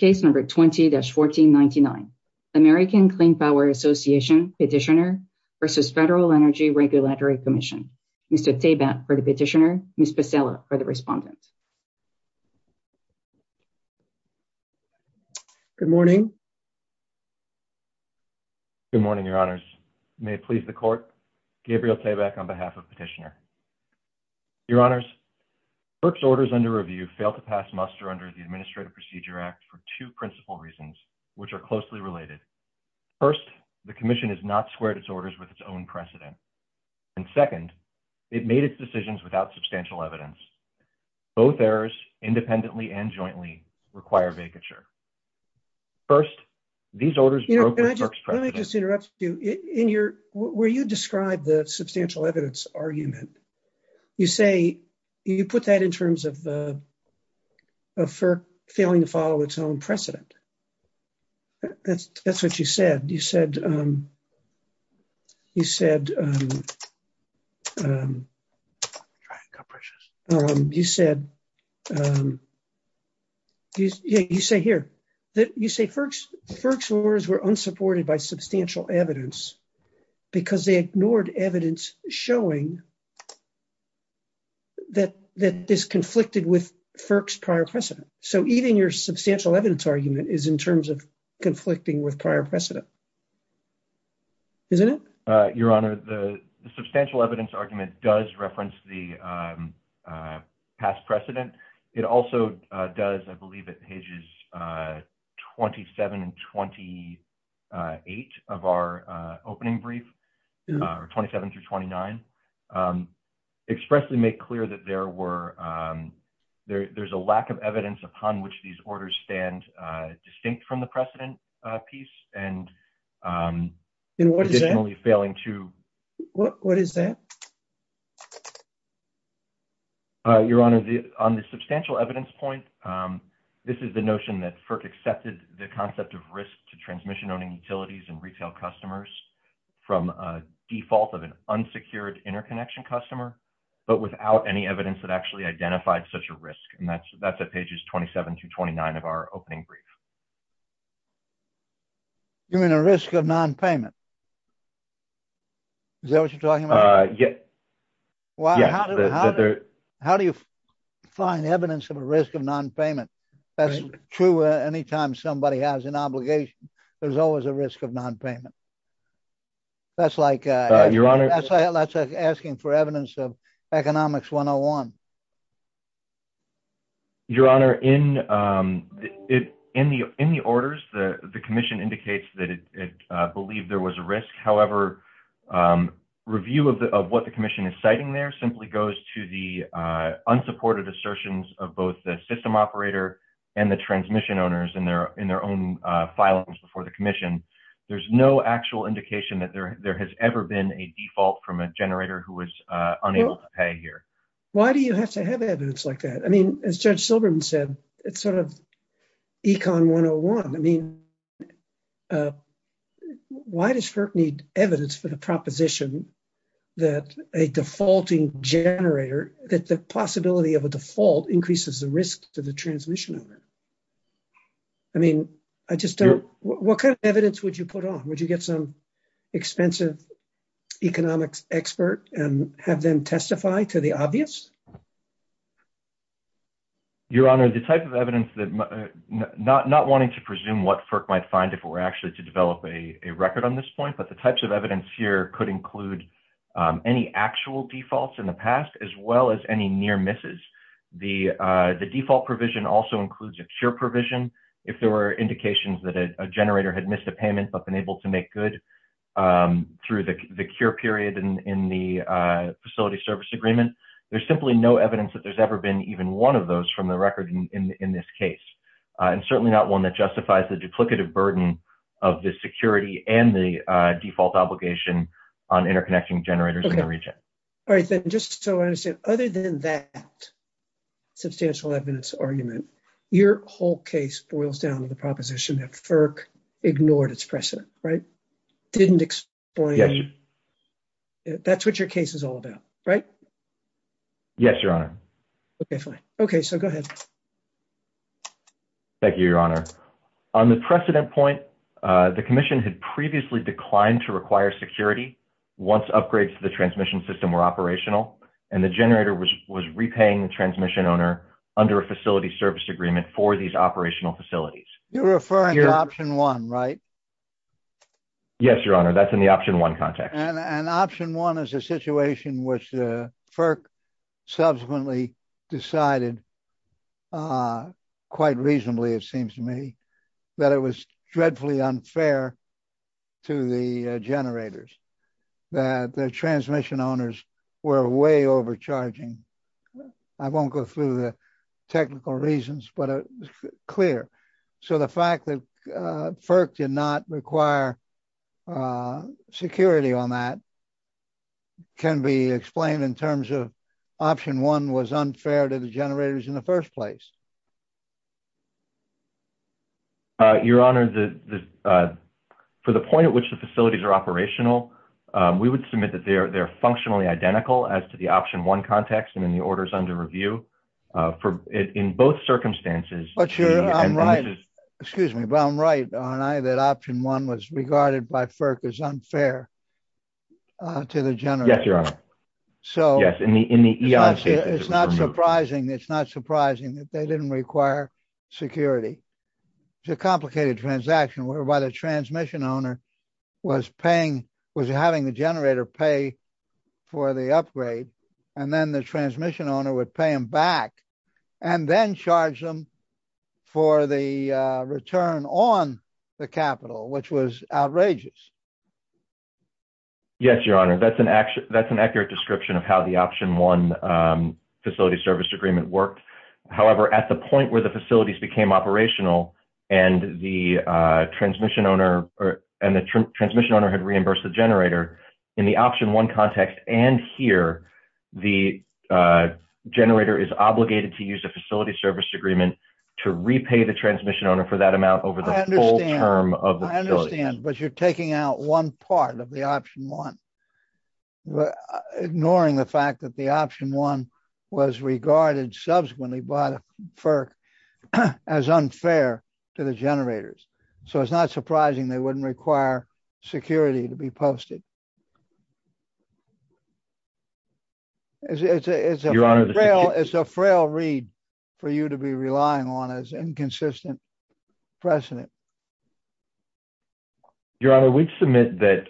20-1499 American Clean Power Association Petitioner v. Federal Energy Regulatory Commission Mr. Tabak for the Petitioner, Ms. Pasella for the Respondent. Good morning. Good morning, Your Honors, may it please the Court, Gabriel Tabak on behalf of Petitioner. Your Honors, FERC's orders under review fail to pass muster under the Administrative Procedure Act for two principal reasons, which are closely related. First, the Commission has not squared its orders with its own precedent. And second, it made its decisions without substantial evidence. Both errors, independently and jointly, require vacature. First, these orders broke with FERC's precedent. Let me just interrupt you. Where you describe the substantial evidence argument, you put that in terms of FERC failing to follow its own precedent. That's what you said. You said, you said, you said, you say here that you say FERC's orders were unsupported by substantial evidence because they ignored evidence showing that this conflicted with FERC's prior precedent. So even your substantial evidence argument is in terms of conflicting with prior precedent. Isn't it? Your Honor, the substantial evidence argument does reference the past precedent. It also does, I believe, at pages 27 and 28 of our opening brief, or 27 through 29, expressly make clear that there were, there's a lack of evidence upon which these orders stand distinct from the precedent piece and traditionally failing to. What is that? Your Honor, the on the substantial evidence point, this is the notion that FERC accepted the concept of risk to transmission, owning utilities and retail customers from a default of an unsecured interconnection customer. But without any evidence that actually identified such a risk, and that's that's at pages 27 to 29 of our opening brief. You mean a risk of nonpayment. Is that what you're talking about? Yeah. Well, how do you find evidence of a risk of nonpayment? That's true. Anytime somebody has an obligation, there's always a risk of nonpayment. That's like your Honor. That's like asking for evidence of economics 101. Your Honor, in it, in the, in the orders, the, the commission indicates that it believed there was a risk. However, review of the, of what the commission is citing there simply goes to the unsupported assertions of both the system operator and the transmission owners in their, in their own filings before the commission. I mean, there's no actual indication that there, there has ever been a default from a generator who was unable to pay here. Why do you have to have evidence like that? I mean, as Judge Silberman said, it's sort of econ 101. I mean, why does FERC need evidence for the proposition that a defaulting generator, that the possibility of a default increases the risk to the transmission of it. I mean, I just don't, what kind of evidence would you put on would you get some expensive economics expert and have them testify to the obvious. Your Honor, the type of evidence that not, not wanting to presume what FERC might find if it were actually to develop a record on this point, but the types of evidence here could include any actual defaults in the past, as well as any near misses. The, the default provision also includes a cure provision. If there were indications that a generator had missed a payment, but been able to make good through the cure period in the facility service agreement, there's simply no evidence that there's ever been even one of those from the record in this case. And certainly not one that justifies the duplicative burden of the security and the default obligation on interconnecting generators in the region. All right, just so I understand, other than that substantial evidence argument, your whole case boils down to the proposition that FERC ignored its precedent, right? Didn't explain. That's what your case is all about, right? Yes, Your Honor. Okay, fine. Okay, so go ahead. Thank you, Your Honor. On the precedent point, the commission had previously declined to require security. Once upgrades to the transmission system were operational, and the generator was, was repaying the transmission owner under a facility service agreement for these operational facilities. You're referring to option one, right? Yes, Your Honor, that's in the option one context. And option one is a situation which FERC subsequently decided, quite reasonably, it seems to me, that it was dreadfully unfair to the generators, that the transmission owners were way overcharging. I won't go through the technical reasons, but it's clear. So the fact that FERC did not require security on that can be explained in terms of option one was unfair to the generators in the first place. Your Honor, for the point at which the facilities are operational, we would submit that they're, they're functionally identical as to the option one context and in the orders under review for it in both circumstances. But you're right. Excuse me, but I'm right, aren't I, that option one was regarded by FERC as unfair to the generators. Yes, Your Honor. So, it's not surprising, it's not surprising that they didn't require security. It's a complicated transaction whereby the transmission owner was paying, was having the generator pay for the upgrade and then the transmission owner would pay him back and then charge them for the return on the capital, which was outrageous. Yes, Your Honor, that's an accurate description of how the option one facility service agreement worked. However, at the point where the facilities became operational and the transmission owner had reimbursed the generator, in the option one context and here, the generator is obligated to use a facility service agreement to repay the transmission owner for that amount over the full term of the facility. I understand, but you're taking out one part of the option one, ignoring the fact that the option one was regarded subsequently by FERC as unfair to the generators. So, it's not surprising they wouldn't require security to be posted. It's a frail read for you to be relying on as inconsistent precedent. Your Honor, we'd submit that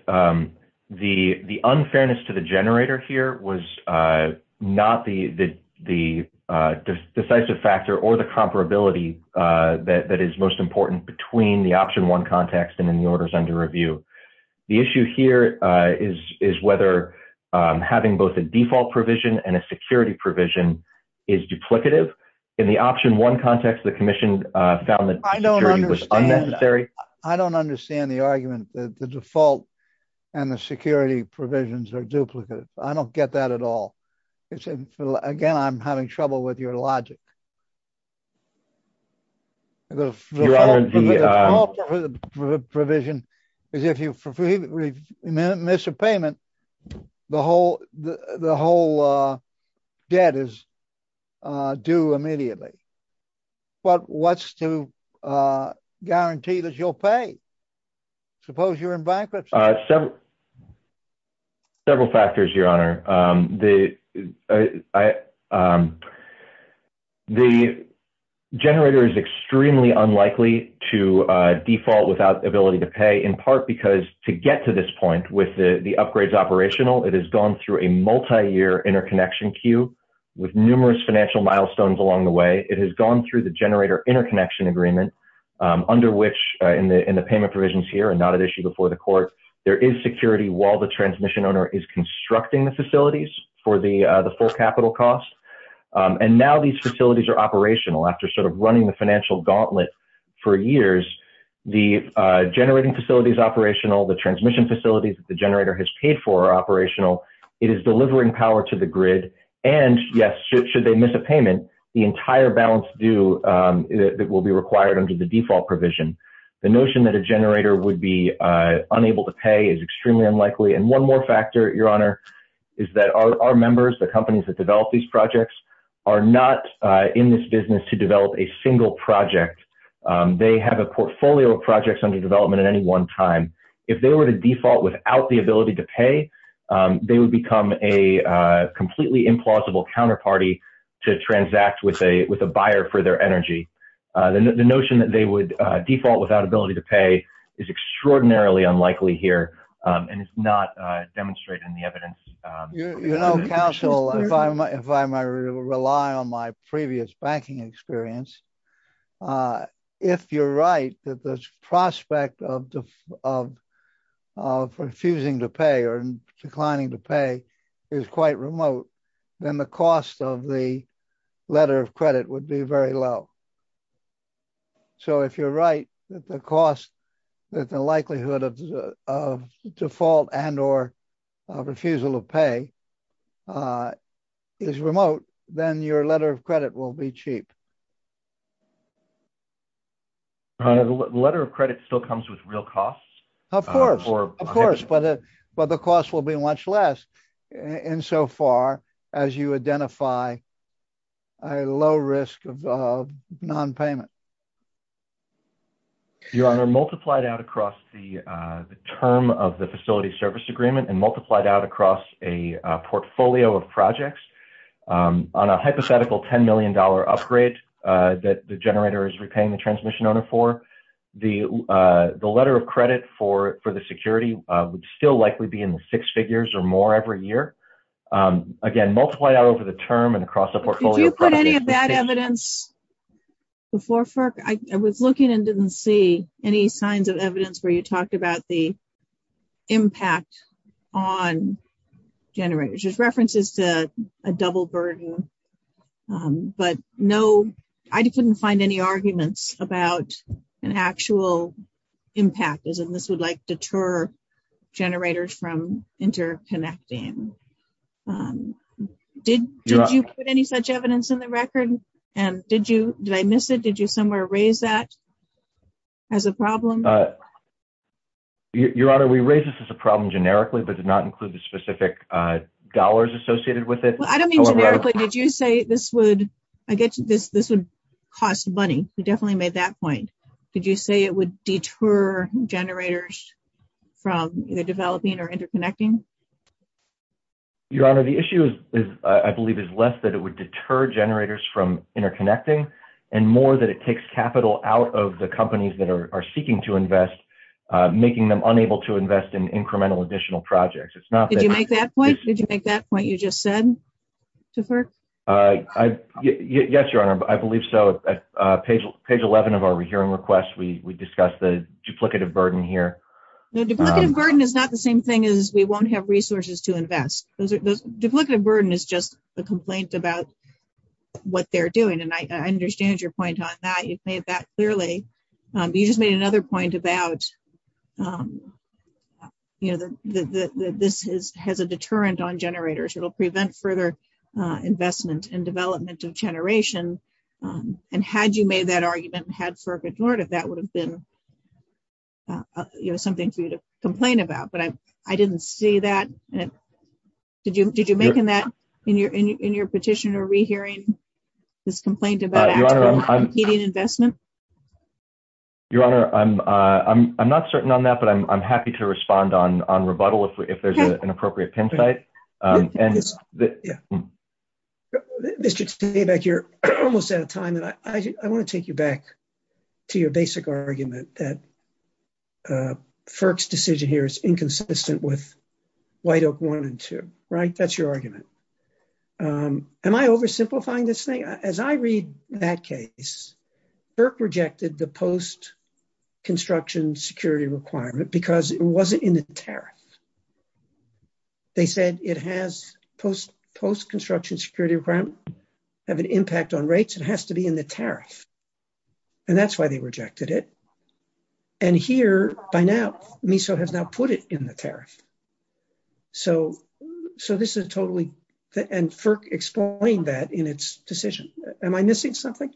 the unfairness to the generator here was not the decisive factor or the comparability that is most important between the option one context and in the orders under review. The issue here is whether having both a default provision and a security provision is duplicative. In the option one context, the commission found that security was unnecessary. I don't understand the argument that the default and the security provisions are duplicative. I don't get that at all. Again, I'm having trouble with your logic. Your Honor, the default provision is if you miss a payment, the whole debt is due immediately. But what's to guarantee that you'll pay? Suppose you're in bankruptcy. Several factors, Your Honor. The generator is extremely unlikely to default without the ability to pay in part because to get to this point with the upgrades operational, it has gone through a multi-year interconnection queue with numerous financial milestones along the way. It has gone through the generator interconnection agreement under which in the payment provisions here and not at issue before the court, there is security while the transmission owner is constructing the facilities for the full capital cost. And now these facilities are operational after sort of running the financial gauntlet for years. The generating facility is operational. The transmission facilities that the generator has paid for are operational. It is delivering power to the grid. And yes, should they miss a payment, the entire balance due that will be required under the default provision. The notion that a generator would be unable to pay is extremely unlikely. And one more factor, Your Honor, is that our members, the companies that develop these projects, are not in this business to develop a single project. They have a portfolio of projects under development at any one time. If they were to default without the ability to pay, they would become a completely implausible counterparty to transact with a buyer for their energy. The notion that they would default without ability to pay is extraordinarily unlikely here and is not demonstrated in the evidence. You know, counsel, if I rely on my previous banking experience, if you're right, that the prospect of refusing to pay or declining to pay is quite remote, then the cost of the letter of credit would be very low. So if you're right, that the cost, that the likelihood of default and or refusal to pay is remote, then your letter of credit will be cheap. The letter of credit still comes with real costs? Of course, but the cost will be much less insofar as you identify a low risk of nonpayment. Your Honor, multiplied out across the term of the facility service agreement and multiplied out across a portfolio of projects on a hypothetical $10 million upgrade that the generator is repaying the transmission owner for, the letter of credit for the security would still likely be in the six figures or more every year. Again, multiplied out over the term and across the portfolio. Did you put any of that evidence before FERC? I was looking and didn't see any signs of evidence where you talked about the impact on generators. Just references to a double burden, but no, I couldn't find any arguments about an actual impact, as in this would like deter generators from interconnecting. Did you put any such evidence in the record? And did you, did I miss it? Did you somewhere raise that as a problem? Your Honor, we raised this as a problem generically, but did not include the specific dollars associated with it. I don't mean generically, did you say this would, I guess this would cost money. We definitely made that point. Did you say it would deter generators from either developing or interconnecting? Your Honor, the issue is, I believe is less that it would deter generators from interconnecting and more that it takes capital out of the companies that are seeking to invest, making them unable to invest in incremental additional projects. Did you make that point? Did you make that point you just said to FERC? Yes, Your Honor, I believe so. Page 11 of our hearing request, we discussed the duplicative burden here. No, duplicative burden is not the same thing as we won't have resources to invest. Duplicative burden is just a complaint about what they're doing. And I understand your point on that. You've made that clearly. You just made another point about, you know, this has a deterrent on generators. It'll prevent further investment and development of generation. And had you made that argument and had FERC ignored it, that would have been something for you to complain about. But I didn't see that. Did you make that in your petition or rehearing this complaint about competing investment? Your Honor, I'm not certain on that, but I'm happy to respond on rebuttal if there's an appropriate pin site. Mr. Tabeck, you're almost out of time. And I want to take you back to your basic argument that FERC's decision here is inconsistent with White Oak 1 and 2, right? That's your argument. Am I oversimplifying this thing? As I read that case, FERC rejected the post construction security requirement because it wasn't in the tariff. They said it has post construction security requirement have an impact on rates. It has to be in the tariff. And that's why they rejected it. And here, by now, MISO has now put it in the tariff. So this is totally, and FERC explained that in its decision. Am I missing something?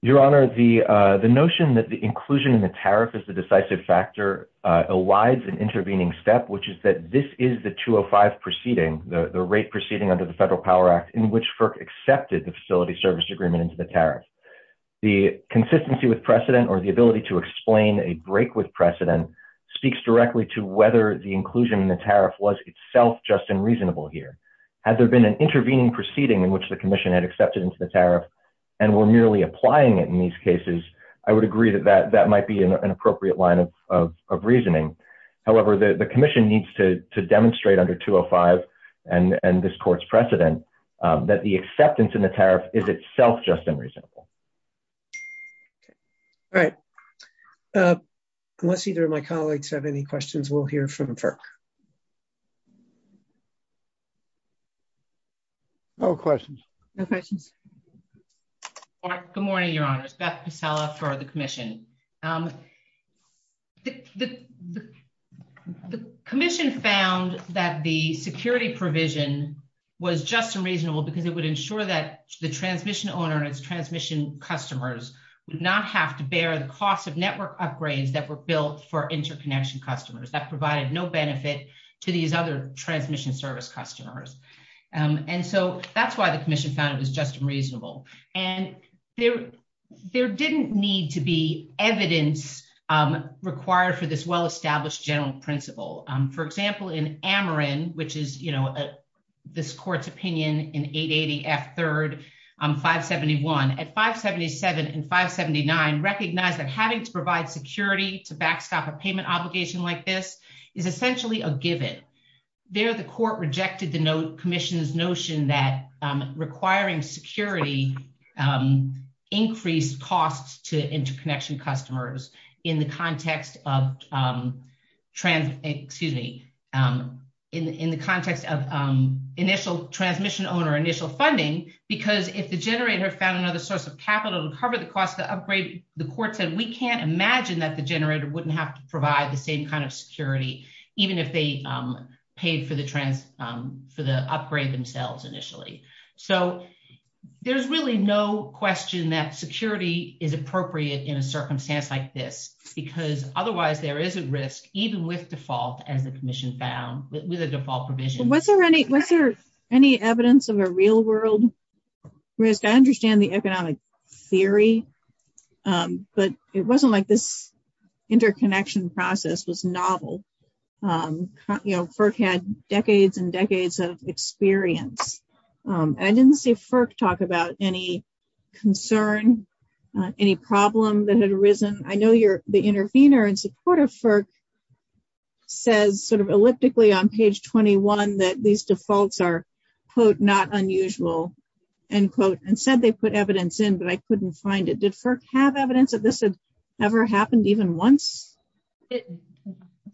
Your Honor, the notion that the inclusion in the tariff is the decisive factor elides an intervening step, which is that this is the 205 proceeding, the rate proceeding under the Federal Power Act, in which FERC accepted the facility service agreement into the tariff. The consistency with precedent or the ability to explain a break with precedent speaks directly to whether the inclusion in the tariff was itself just unreasonable here. Had there been an intervening proceeding in which the commission had accepted into the tariff and were merely applying it in these cases, I would agree that that might be an appropriate line of reasoning. However, the commission needs to demonstrate under 205 and this court's precedent that the acceptance in the tariff is itself just unreasonable. All right. Unless either of my colleagues have any questions, we'll hear from FERC. No questions. Good morning, Your Honors. Beth Pasella for the commission. The commission found that the security provision was just unreasonable because it would ensure that the transmission owner and its transmission customers would not have to bear the cost of network upgrades that were built for interconnection customers. That provided no benefit to these other transmission service customers. And so that's why the commission found it was just unreasonable. And there didn't need to be evidence required for this well-established general principle. For example, in Ameren, which is, you know, this court's opinion in 880 F3rd 571, at 577 and 579 recognized that having to provide security to backstop a payment obligation like this is essentially a given. There, the court rejected the commission's notion that requiring security increased costs to interconnection customers in the context of, excuse me, in the context of initial transmission owner, initial funding, because if the generator found another source of capital to cover the cost of the upgrade, the court said, we can't imagine that the generator wouldn't have to provide the same kind of security, even if they paid for the upgrade themselves initially. So there's really no question that security is appropriate in a circumstance like this, because otherwise there is a risk, even with default as the commission found with a default provision. Was there any, was there any evidence of a real world risk? I understand the economic theory, but it wasn't like this interconnection process was novel. FERC had decades and decades of experience. I didn't see FERC talk about any concern, any problem that had arisen. I know the intervener in support of FERC says sort of elliptically on page 21 that these defaults are, quote, not unusual, end quote, and said they put evidence in, but I couldn't find it. Did FERC have evidence that this had ever happened even once?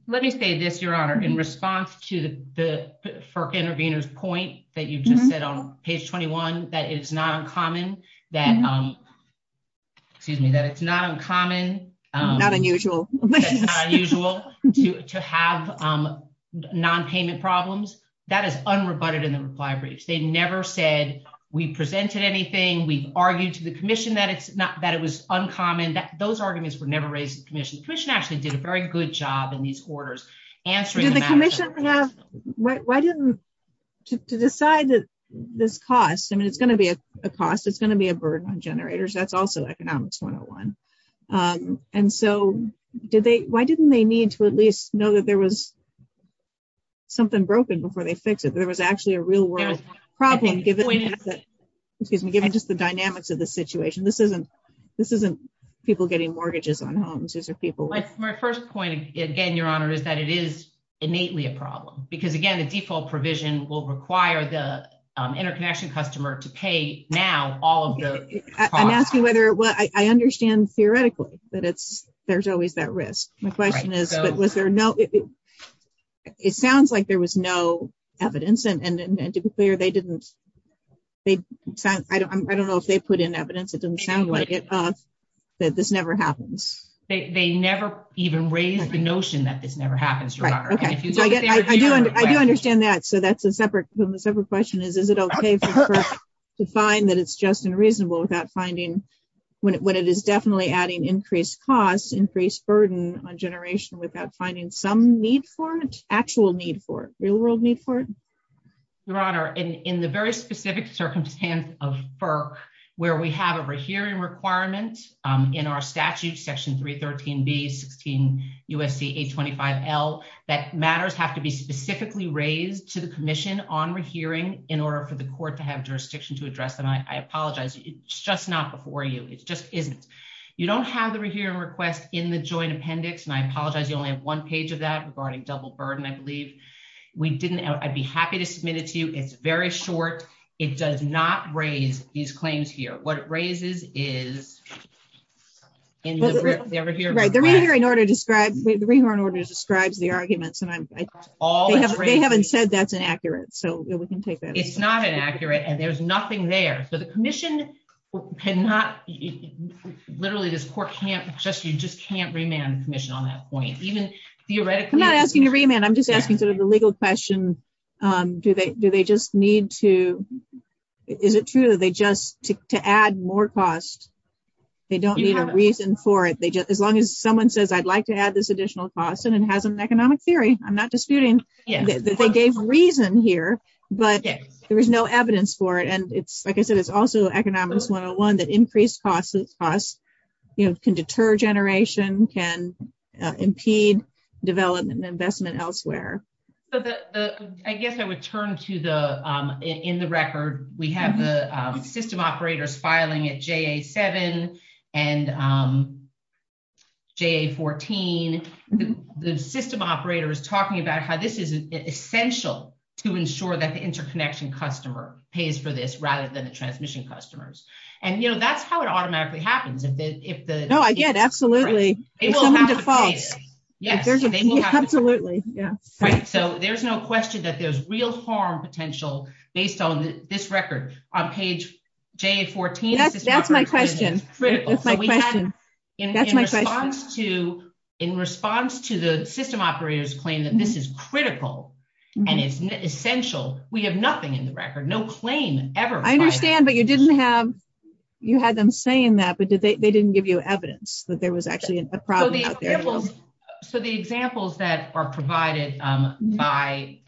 Let me say this, Your Honor, in response to the FERC intervener's point that you just said on page 21, that it's not uncommon that, excuse me, that it's not uncommon. Not unusual. That it's not unusual to have non-payment problems. That is unrebutted in the reply briefs. They never said we presented anything, we argued to the commission that it was uncommon, that those arguments were never raised to the commission. The commission actually did a very good job in these orders answering the matter. The question I have, why didn't, to decide that this cost, I mean, it's going to be a cost, it's going to be a burden on generators, that's also economics 101. And so, did they, why didn't they need to at least know that there was something broken before they fix it, there was actually a real world problem given that, excuse me, given just the dynamics of the situation. This isn't people getting mortgages on homes. My first point, again, Your Honor, is that it is innately a problem. Because again, the default provision will require the interconnection customer to pay now all of the costs. I'm asking whether, well, I understand theoretically that it's, there's always that risk. My question is, was there no, it sounds like there was no evidence and to be clear, they didn't, I don't know if they put in evidence, it doesn't sound like it, that this never happens. They never even raised the notion that this never happens, Your Honor. I do understand that, so that's a separate question, is it okay for FERC to find that it's just unreasonable without finding, when it is definitely adding increased costs, increased burden on generation without finding some need for it, actual need for it, real world need for it? Your Honor, in the very specific circumstance of FERC, where we have a rehearing requirement in our statute, section 313B, 16 U.S.C. 825L, that matters have to be specifically raised to the commission on rehearing in order for the court to have jurisdiction to address them. I apologize, it's just not before you, it just isn't. You don't have the rehearing request in the joint appendix, and I apologize, you only have one page of that regarding double burden, I believe. We didn't, I'd be happy to submit it to you, it's very short, it does not raise these claims here. What it raises is, in the rehearing request. Right, the rehearing order describes, the rehearing order describes the arguments, and I'm, they haven't said that's inaccurate, so we can take that. It's not inaccurate, and there's nothing there, so the commission cannot, literally this court can't, you just can't remand the commission on that point, even theoretically. I'm not asking you to remand, I'm just asking sort of the legal question, do they just need to, is it true that they just, to add more costs, they don't need a reason for it, as long as someone says I'd like to add this additional cost, and it has an economic theory, I'm not disputing that they gave a reason here, but there was no evidence for it, and it's, like I said, it's also economics 101, that increased costs, you know, can deter generation, can impede development and investment elsewhere. I guess I would turn to the, in the record, we have the system operators filing at JA7 and JA14, the system operators talking about how this is essential to ensure that the interconnection customer pays for this, rather than the transmission customers. And you know, that's how it automatically happens. No, I get it, absolutely. If someone defaults. Yes, absolutely. Right, so there's no question that there's real harm potential, based on this record, on page JA14. That's my question. That's my question. In response to the system operators claim that this is critical, and it's essential, we have nothing in the record, no claim ever. I understand, but you didn't have, you had them saying that, but they didn't give you evidence that there was actually a problem out there. So the examples that are provided by,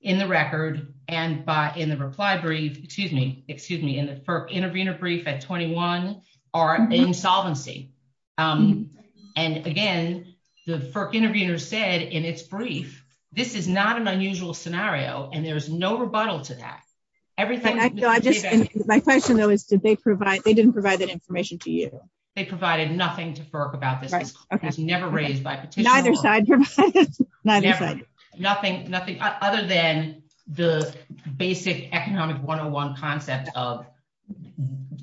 in the record, and by, in the reply brief, excuse me, excuse me, in the FERC intervener brief at 21, are insolvency. And again, the FERC intervener said in its brief, this is not an unusual scenario, and there's no rebuttal to that. My question, though, is did they provide, they didn't provide that information to you? They provided nothing to FERC about this. Right, okay. It was never raised by petitioners. Neither side provided, neither side. Nothing, other than the basic economic 101 concept of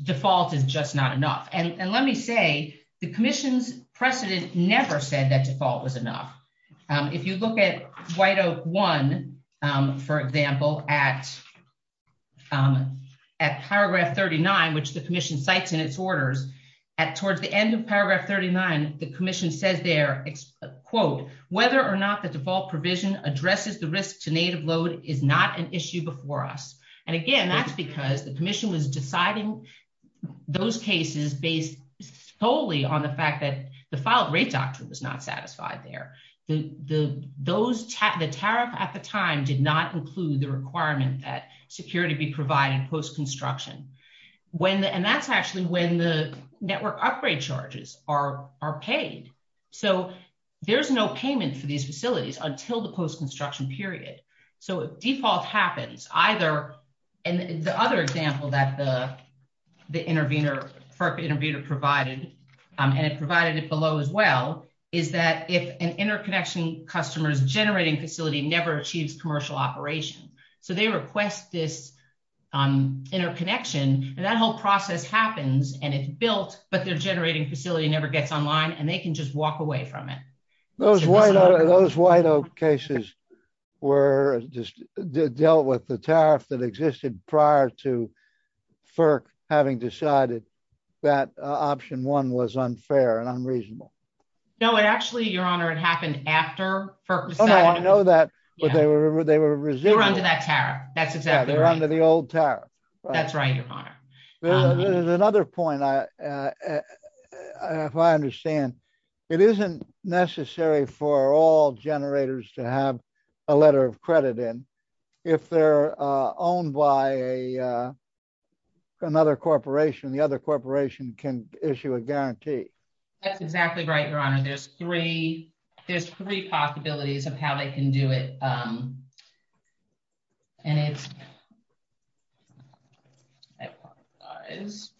default is just not enough. And let me say, the commission's precedent never said that default was enough. If you look at White Oak 1, for example, at paragraph 39, which the commission cites in its orders, towards the end of paragraph 39, the commission says there, quote, whether or not the default provision addresses the risk to native load is not an issue before us. And again, that's because the commission was deciding those cases based solely on the fact that the filed rate doctrine was not satisfied there. The tariff at the time did not include the requirement that security be provided post-construction. And that's actually when the network upgrade charges are paid. So there's no payment for these facilities until the post-construction period. So default happens either, and the other example that the intervener, FERC intervener provided, and it provided it below as well, is that if an interconnection customer's generating facility never achieves commercial operation. So they request this interconnection, and that whole process happens, and it's built, but their generating facility never gets online, and they can just walk away from it. Those White Oak cases were just dealt with the tariff that existed prior to FERC having decided that option one was unfair and unreasonable. No, it actually, Your Honor, it happened after FERC decided. Oh, I know that, but they were resilient. They were under that tariff. That's exactly right. They were under the old tariff. That's right, Your Honor. There's another point, if I understand. It isn't necessary for all generators to have a letter of credit in. If they're owned by another corporation, the other corporation can issue a guarantee. Your Honor, there's three possibilities of how they can do it, and it's,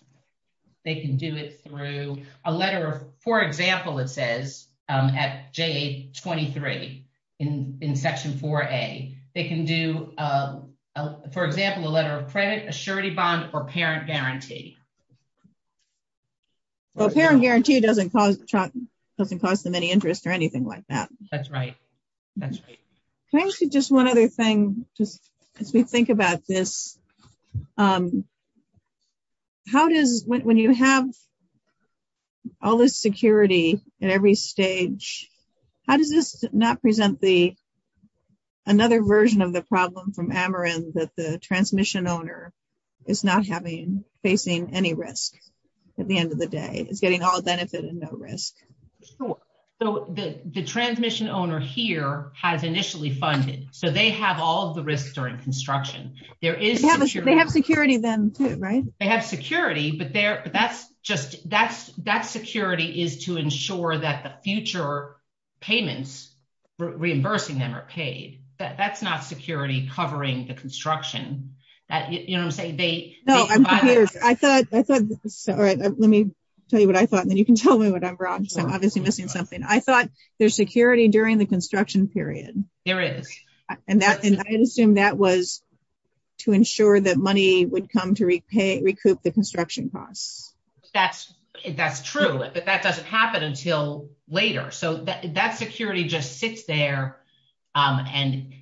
they can do it through a letter of, for example, it says at JA23 in Section 4A, they can do, for example, a letter of credit, a surety bond, or parent guarantee. Well, parent guarantee doesn't cause them any interest or anything like that. That's right. That's right. Can I ask you just one other thing, just as we think about this? How does, when you have all this security at every stage, how does this not present the, another version of the problem from Ameren that the transmission owner is not having, facing any risk at the end of the day? It's getting all benefit and no risk. The transmission owner here has initially funded, so they have all the risks during construction. They have security then too, right? They have security, but that's just, that security is to ensure that the future payments, reimbursing them are paid. That's not security covering the construction. You know what I'm saying? I thought, all right, let me tell you what I thought, and then you can tell me what I'm wrong, because I'm obviously missing something. I thought there's security during the construction period. There is. And I assumed that was to ensure that money would come to recoup the construction costs. That's true, but that doesn't happen until later. So that security just sits there. And,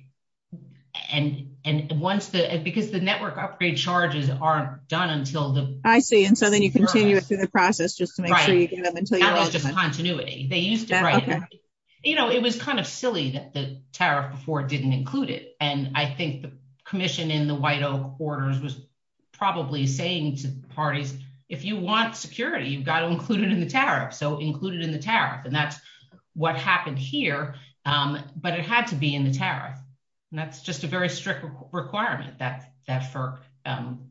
and, and once the, because the network upgrade charges aren't done until the... I see. And so then you continue it through the process just to make sure you get them until you're done. That is just continuity. They used to write it. You know, it was kind of silly that the tariff before didn't include it. And I think the commission in the White Oak Orders was probably saying to parties, if you want security, you've got to include it in the tariff. So include it in the tariff. And that's what happened here. But it had to be in the tariff. And that's just a very strict requirement that FERC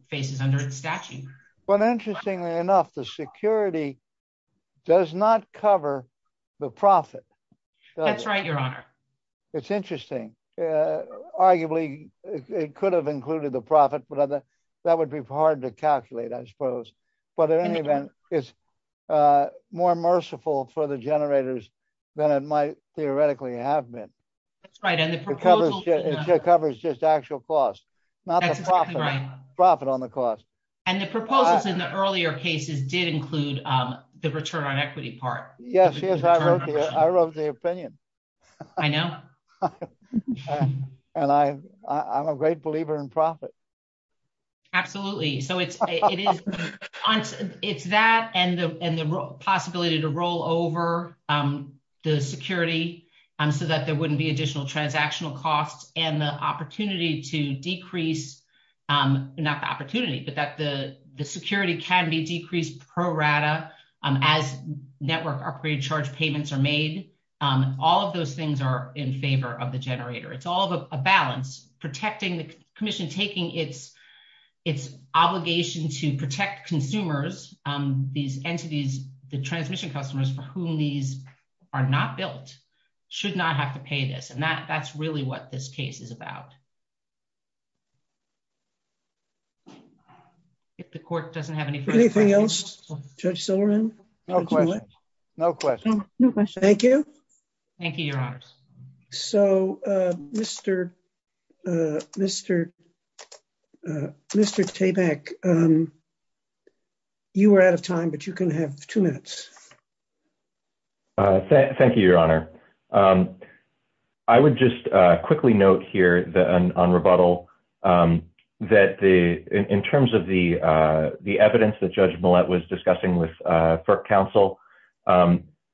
faces under the statute. But interestingly enough, the security does not cover the profit. That's right, Your Honor. It's interesting. Arguably, it could have included the profit, but that would be hard to calculate, I suppose. But in any event, it's more merciful for the generators than it might theoretically have been. That's right. And the proposal... It covers just actual costs. That's exactly right. Not the profit on the cost. And the proposals in the earlier cases did include the return on equity part. Yes, yes, I wrote the opinion. I know. And I'm a great believer in profit. Absolutely. So it's that and the possibility to roll over the security so that there wouldn't be additional transactional costs and the opportunity to decrease... All of those things are in favor of the generator. It's all of a balance. Protecting the commission, taking its obligation to protect consumers, these entities, the transmission customers for whom these are not built, should not have to pay this. And that's really what this case is about. If the court doesn't have anything... Anything else, Judge Silberman? No question. No question. No question. Thank you. Thank you, Your Honor. So, Mr. Tabak, you were out of time, but you can have two minutes. Thank you, Your Honor. I would just quickly note here on rebuttal that in terms of the evidence that Judge Millett was discussing with FERC counsel,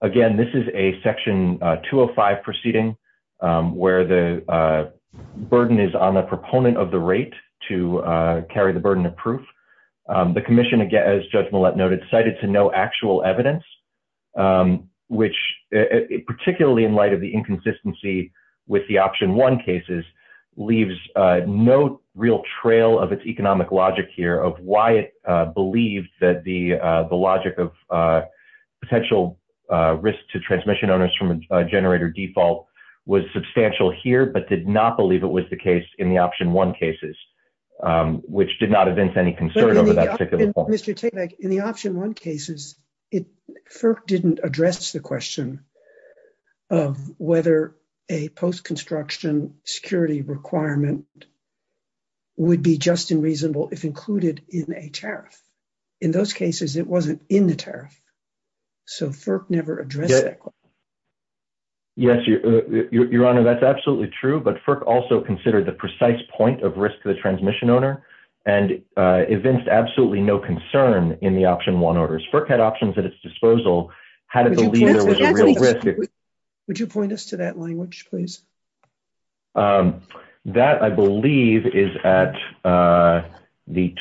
again, this is a Section 205 proceeding where the burden is on the proponent of the rate to carry the burden of proof. The commission, as Judge Millett noted, cited to no actual evidence, which particularly in light of the inconsistency with the Option 1 cases, leaves no real trail of its economic logic here of why it believed that the logic of potential risk to transmission owners from a generator default was substantial here, but did not believe it was the case in the Option 1 cases, which did not evince any concern over that particular point. Mr. Tabak, in the Option 1 cases, FERC didn't address the question of whether a post-construction security requirement would be just and reasonable if included in a tariff. In those cases, it wasn't in the tariff. So, FERC never addressed that question. Yes, Your Honor, that's absolutely true, but FERC also considered the precise point of risk to the transmission owner and evinced absolutely no concern in the Option 1 orders. FERC had options at its disposal. Would you point us to that language, please? That, I believe, is at the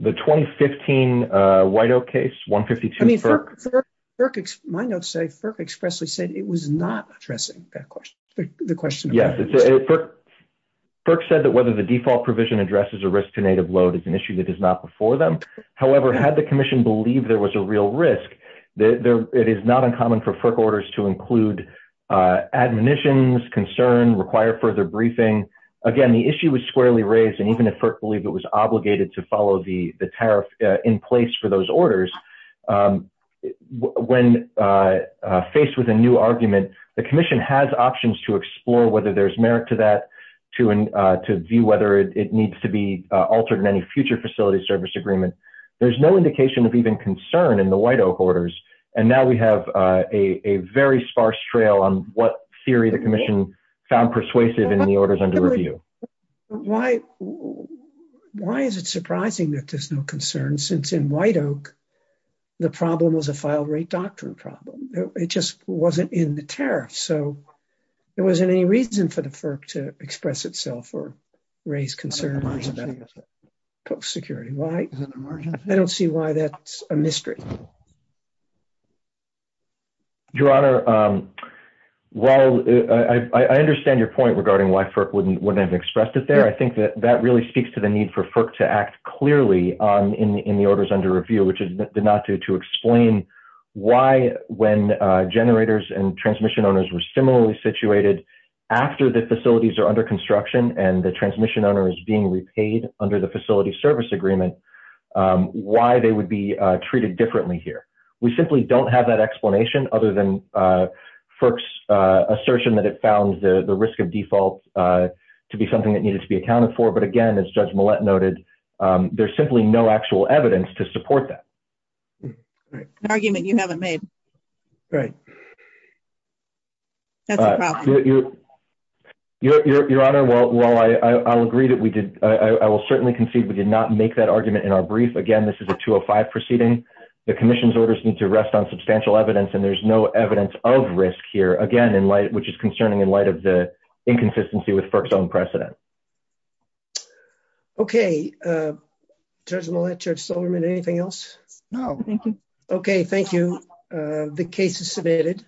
2015 White Oak case, 152 FERC. My notes say FERC expressly said it was not addressing the question. Yes. FERC said that whether the default provision addresses a risk to native load is an issue that is not before them. However, had the Commission believed there was a real risk, it is not uncommon for FERC orders to include admonitions, concern, require further briefing. Again, the issue was squarely raised, and even if FERC believed it was obligated to follow the tariff in place for those orders, when faced with a new argument, the Commission has options to explore whether there's merit to that, to view whether it needs to be altered in any future facility service agreement. There's no indication of even concern in the White Oak orders, and now we have a very sparse trail on what theory the Commission found persuasive in the orders under review. Why is it surprising that there's no concern, since in White Oak, the problem was a file rate doctrine problem? It just wasn't in the tariff, so there wasn't any reason for the FERC to express itself or raise concern about post security. I don't see why that's a mystery. Your Honor, while I understand your point regarding why FERC wouldn't have expressed it there, I think that that really speaks to the need for FERC to act clearly in the orders under review, which is not to explain why when generators and transmission owners were similarly situated after the facilities are under construction and the transmission owner is being repaid under the facility service agreement, why they would be treated differently here. We simply don't have that explanation, other than FERC's assertion that it found the risk of default to be something that needed to be accounted for. But again, as Judge Millett noted, there's simply no actual evidence to support that. An argument you haven't made. Right. That's a problem. Your Honor, while I'll agree that we did, I will certainly concede we did not make that argument in our brief. Again, this is a 205 proceeding. The commission's orders need to rest on substantial evidence and there's no evidence of risk here, again, in light, which is concerning in light of the inconsistency with FERC's own precedent. Okay. Judge Millett, Judge Silverman, anything else? No. Okay, thank you. The case is submitted.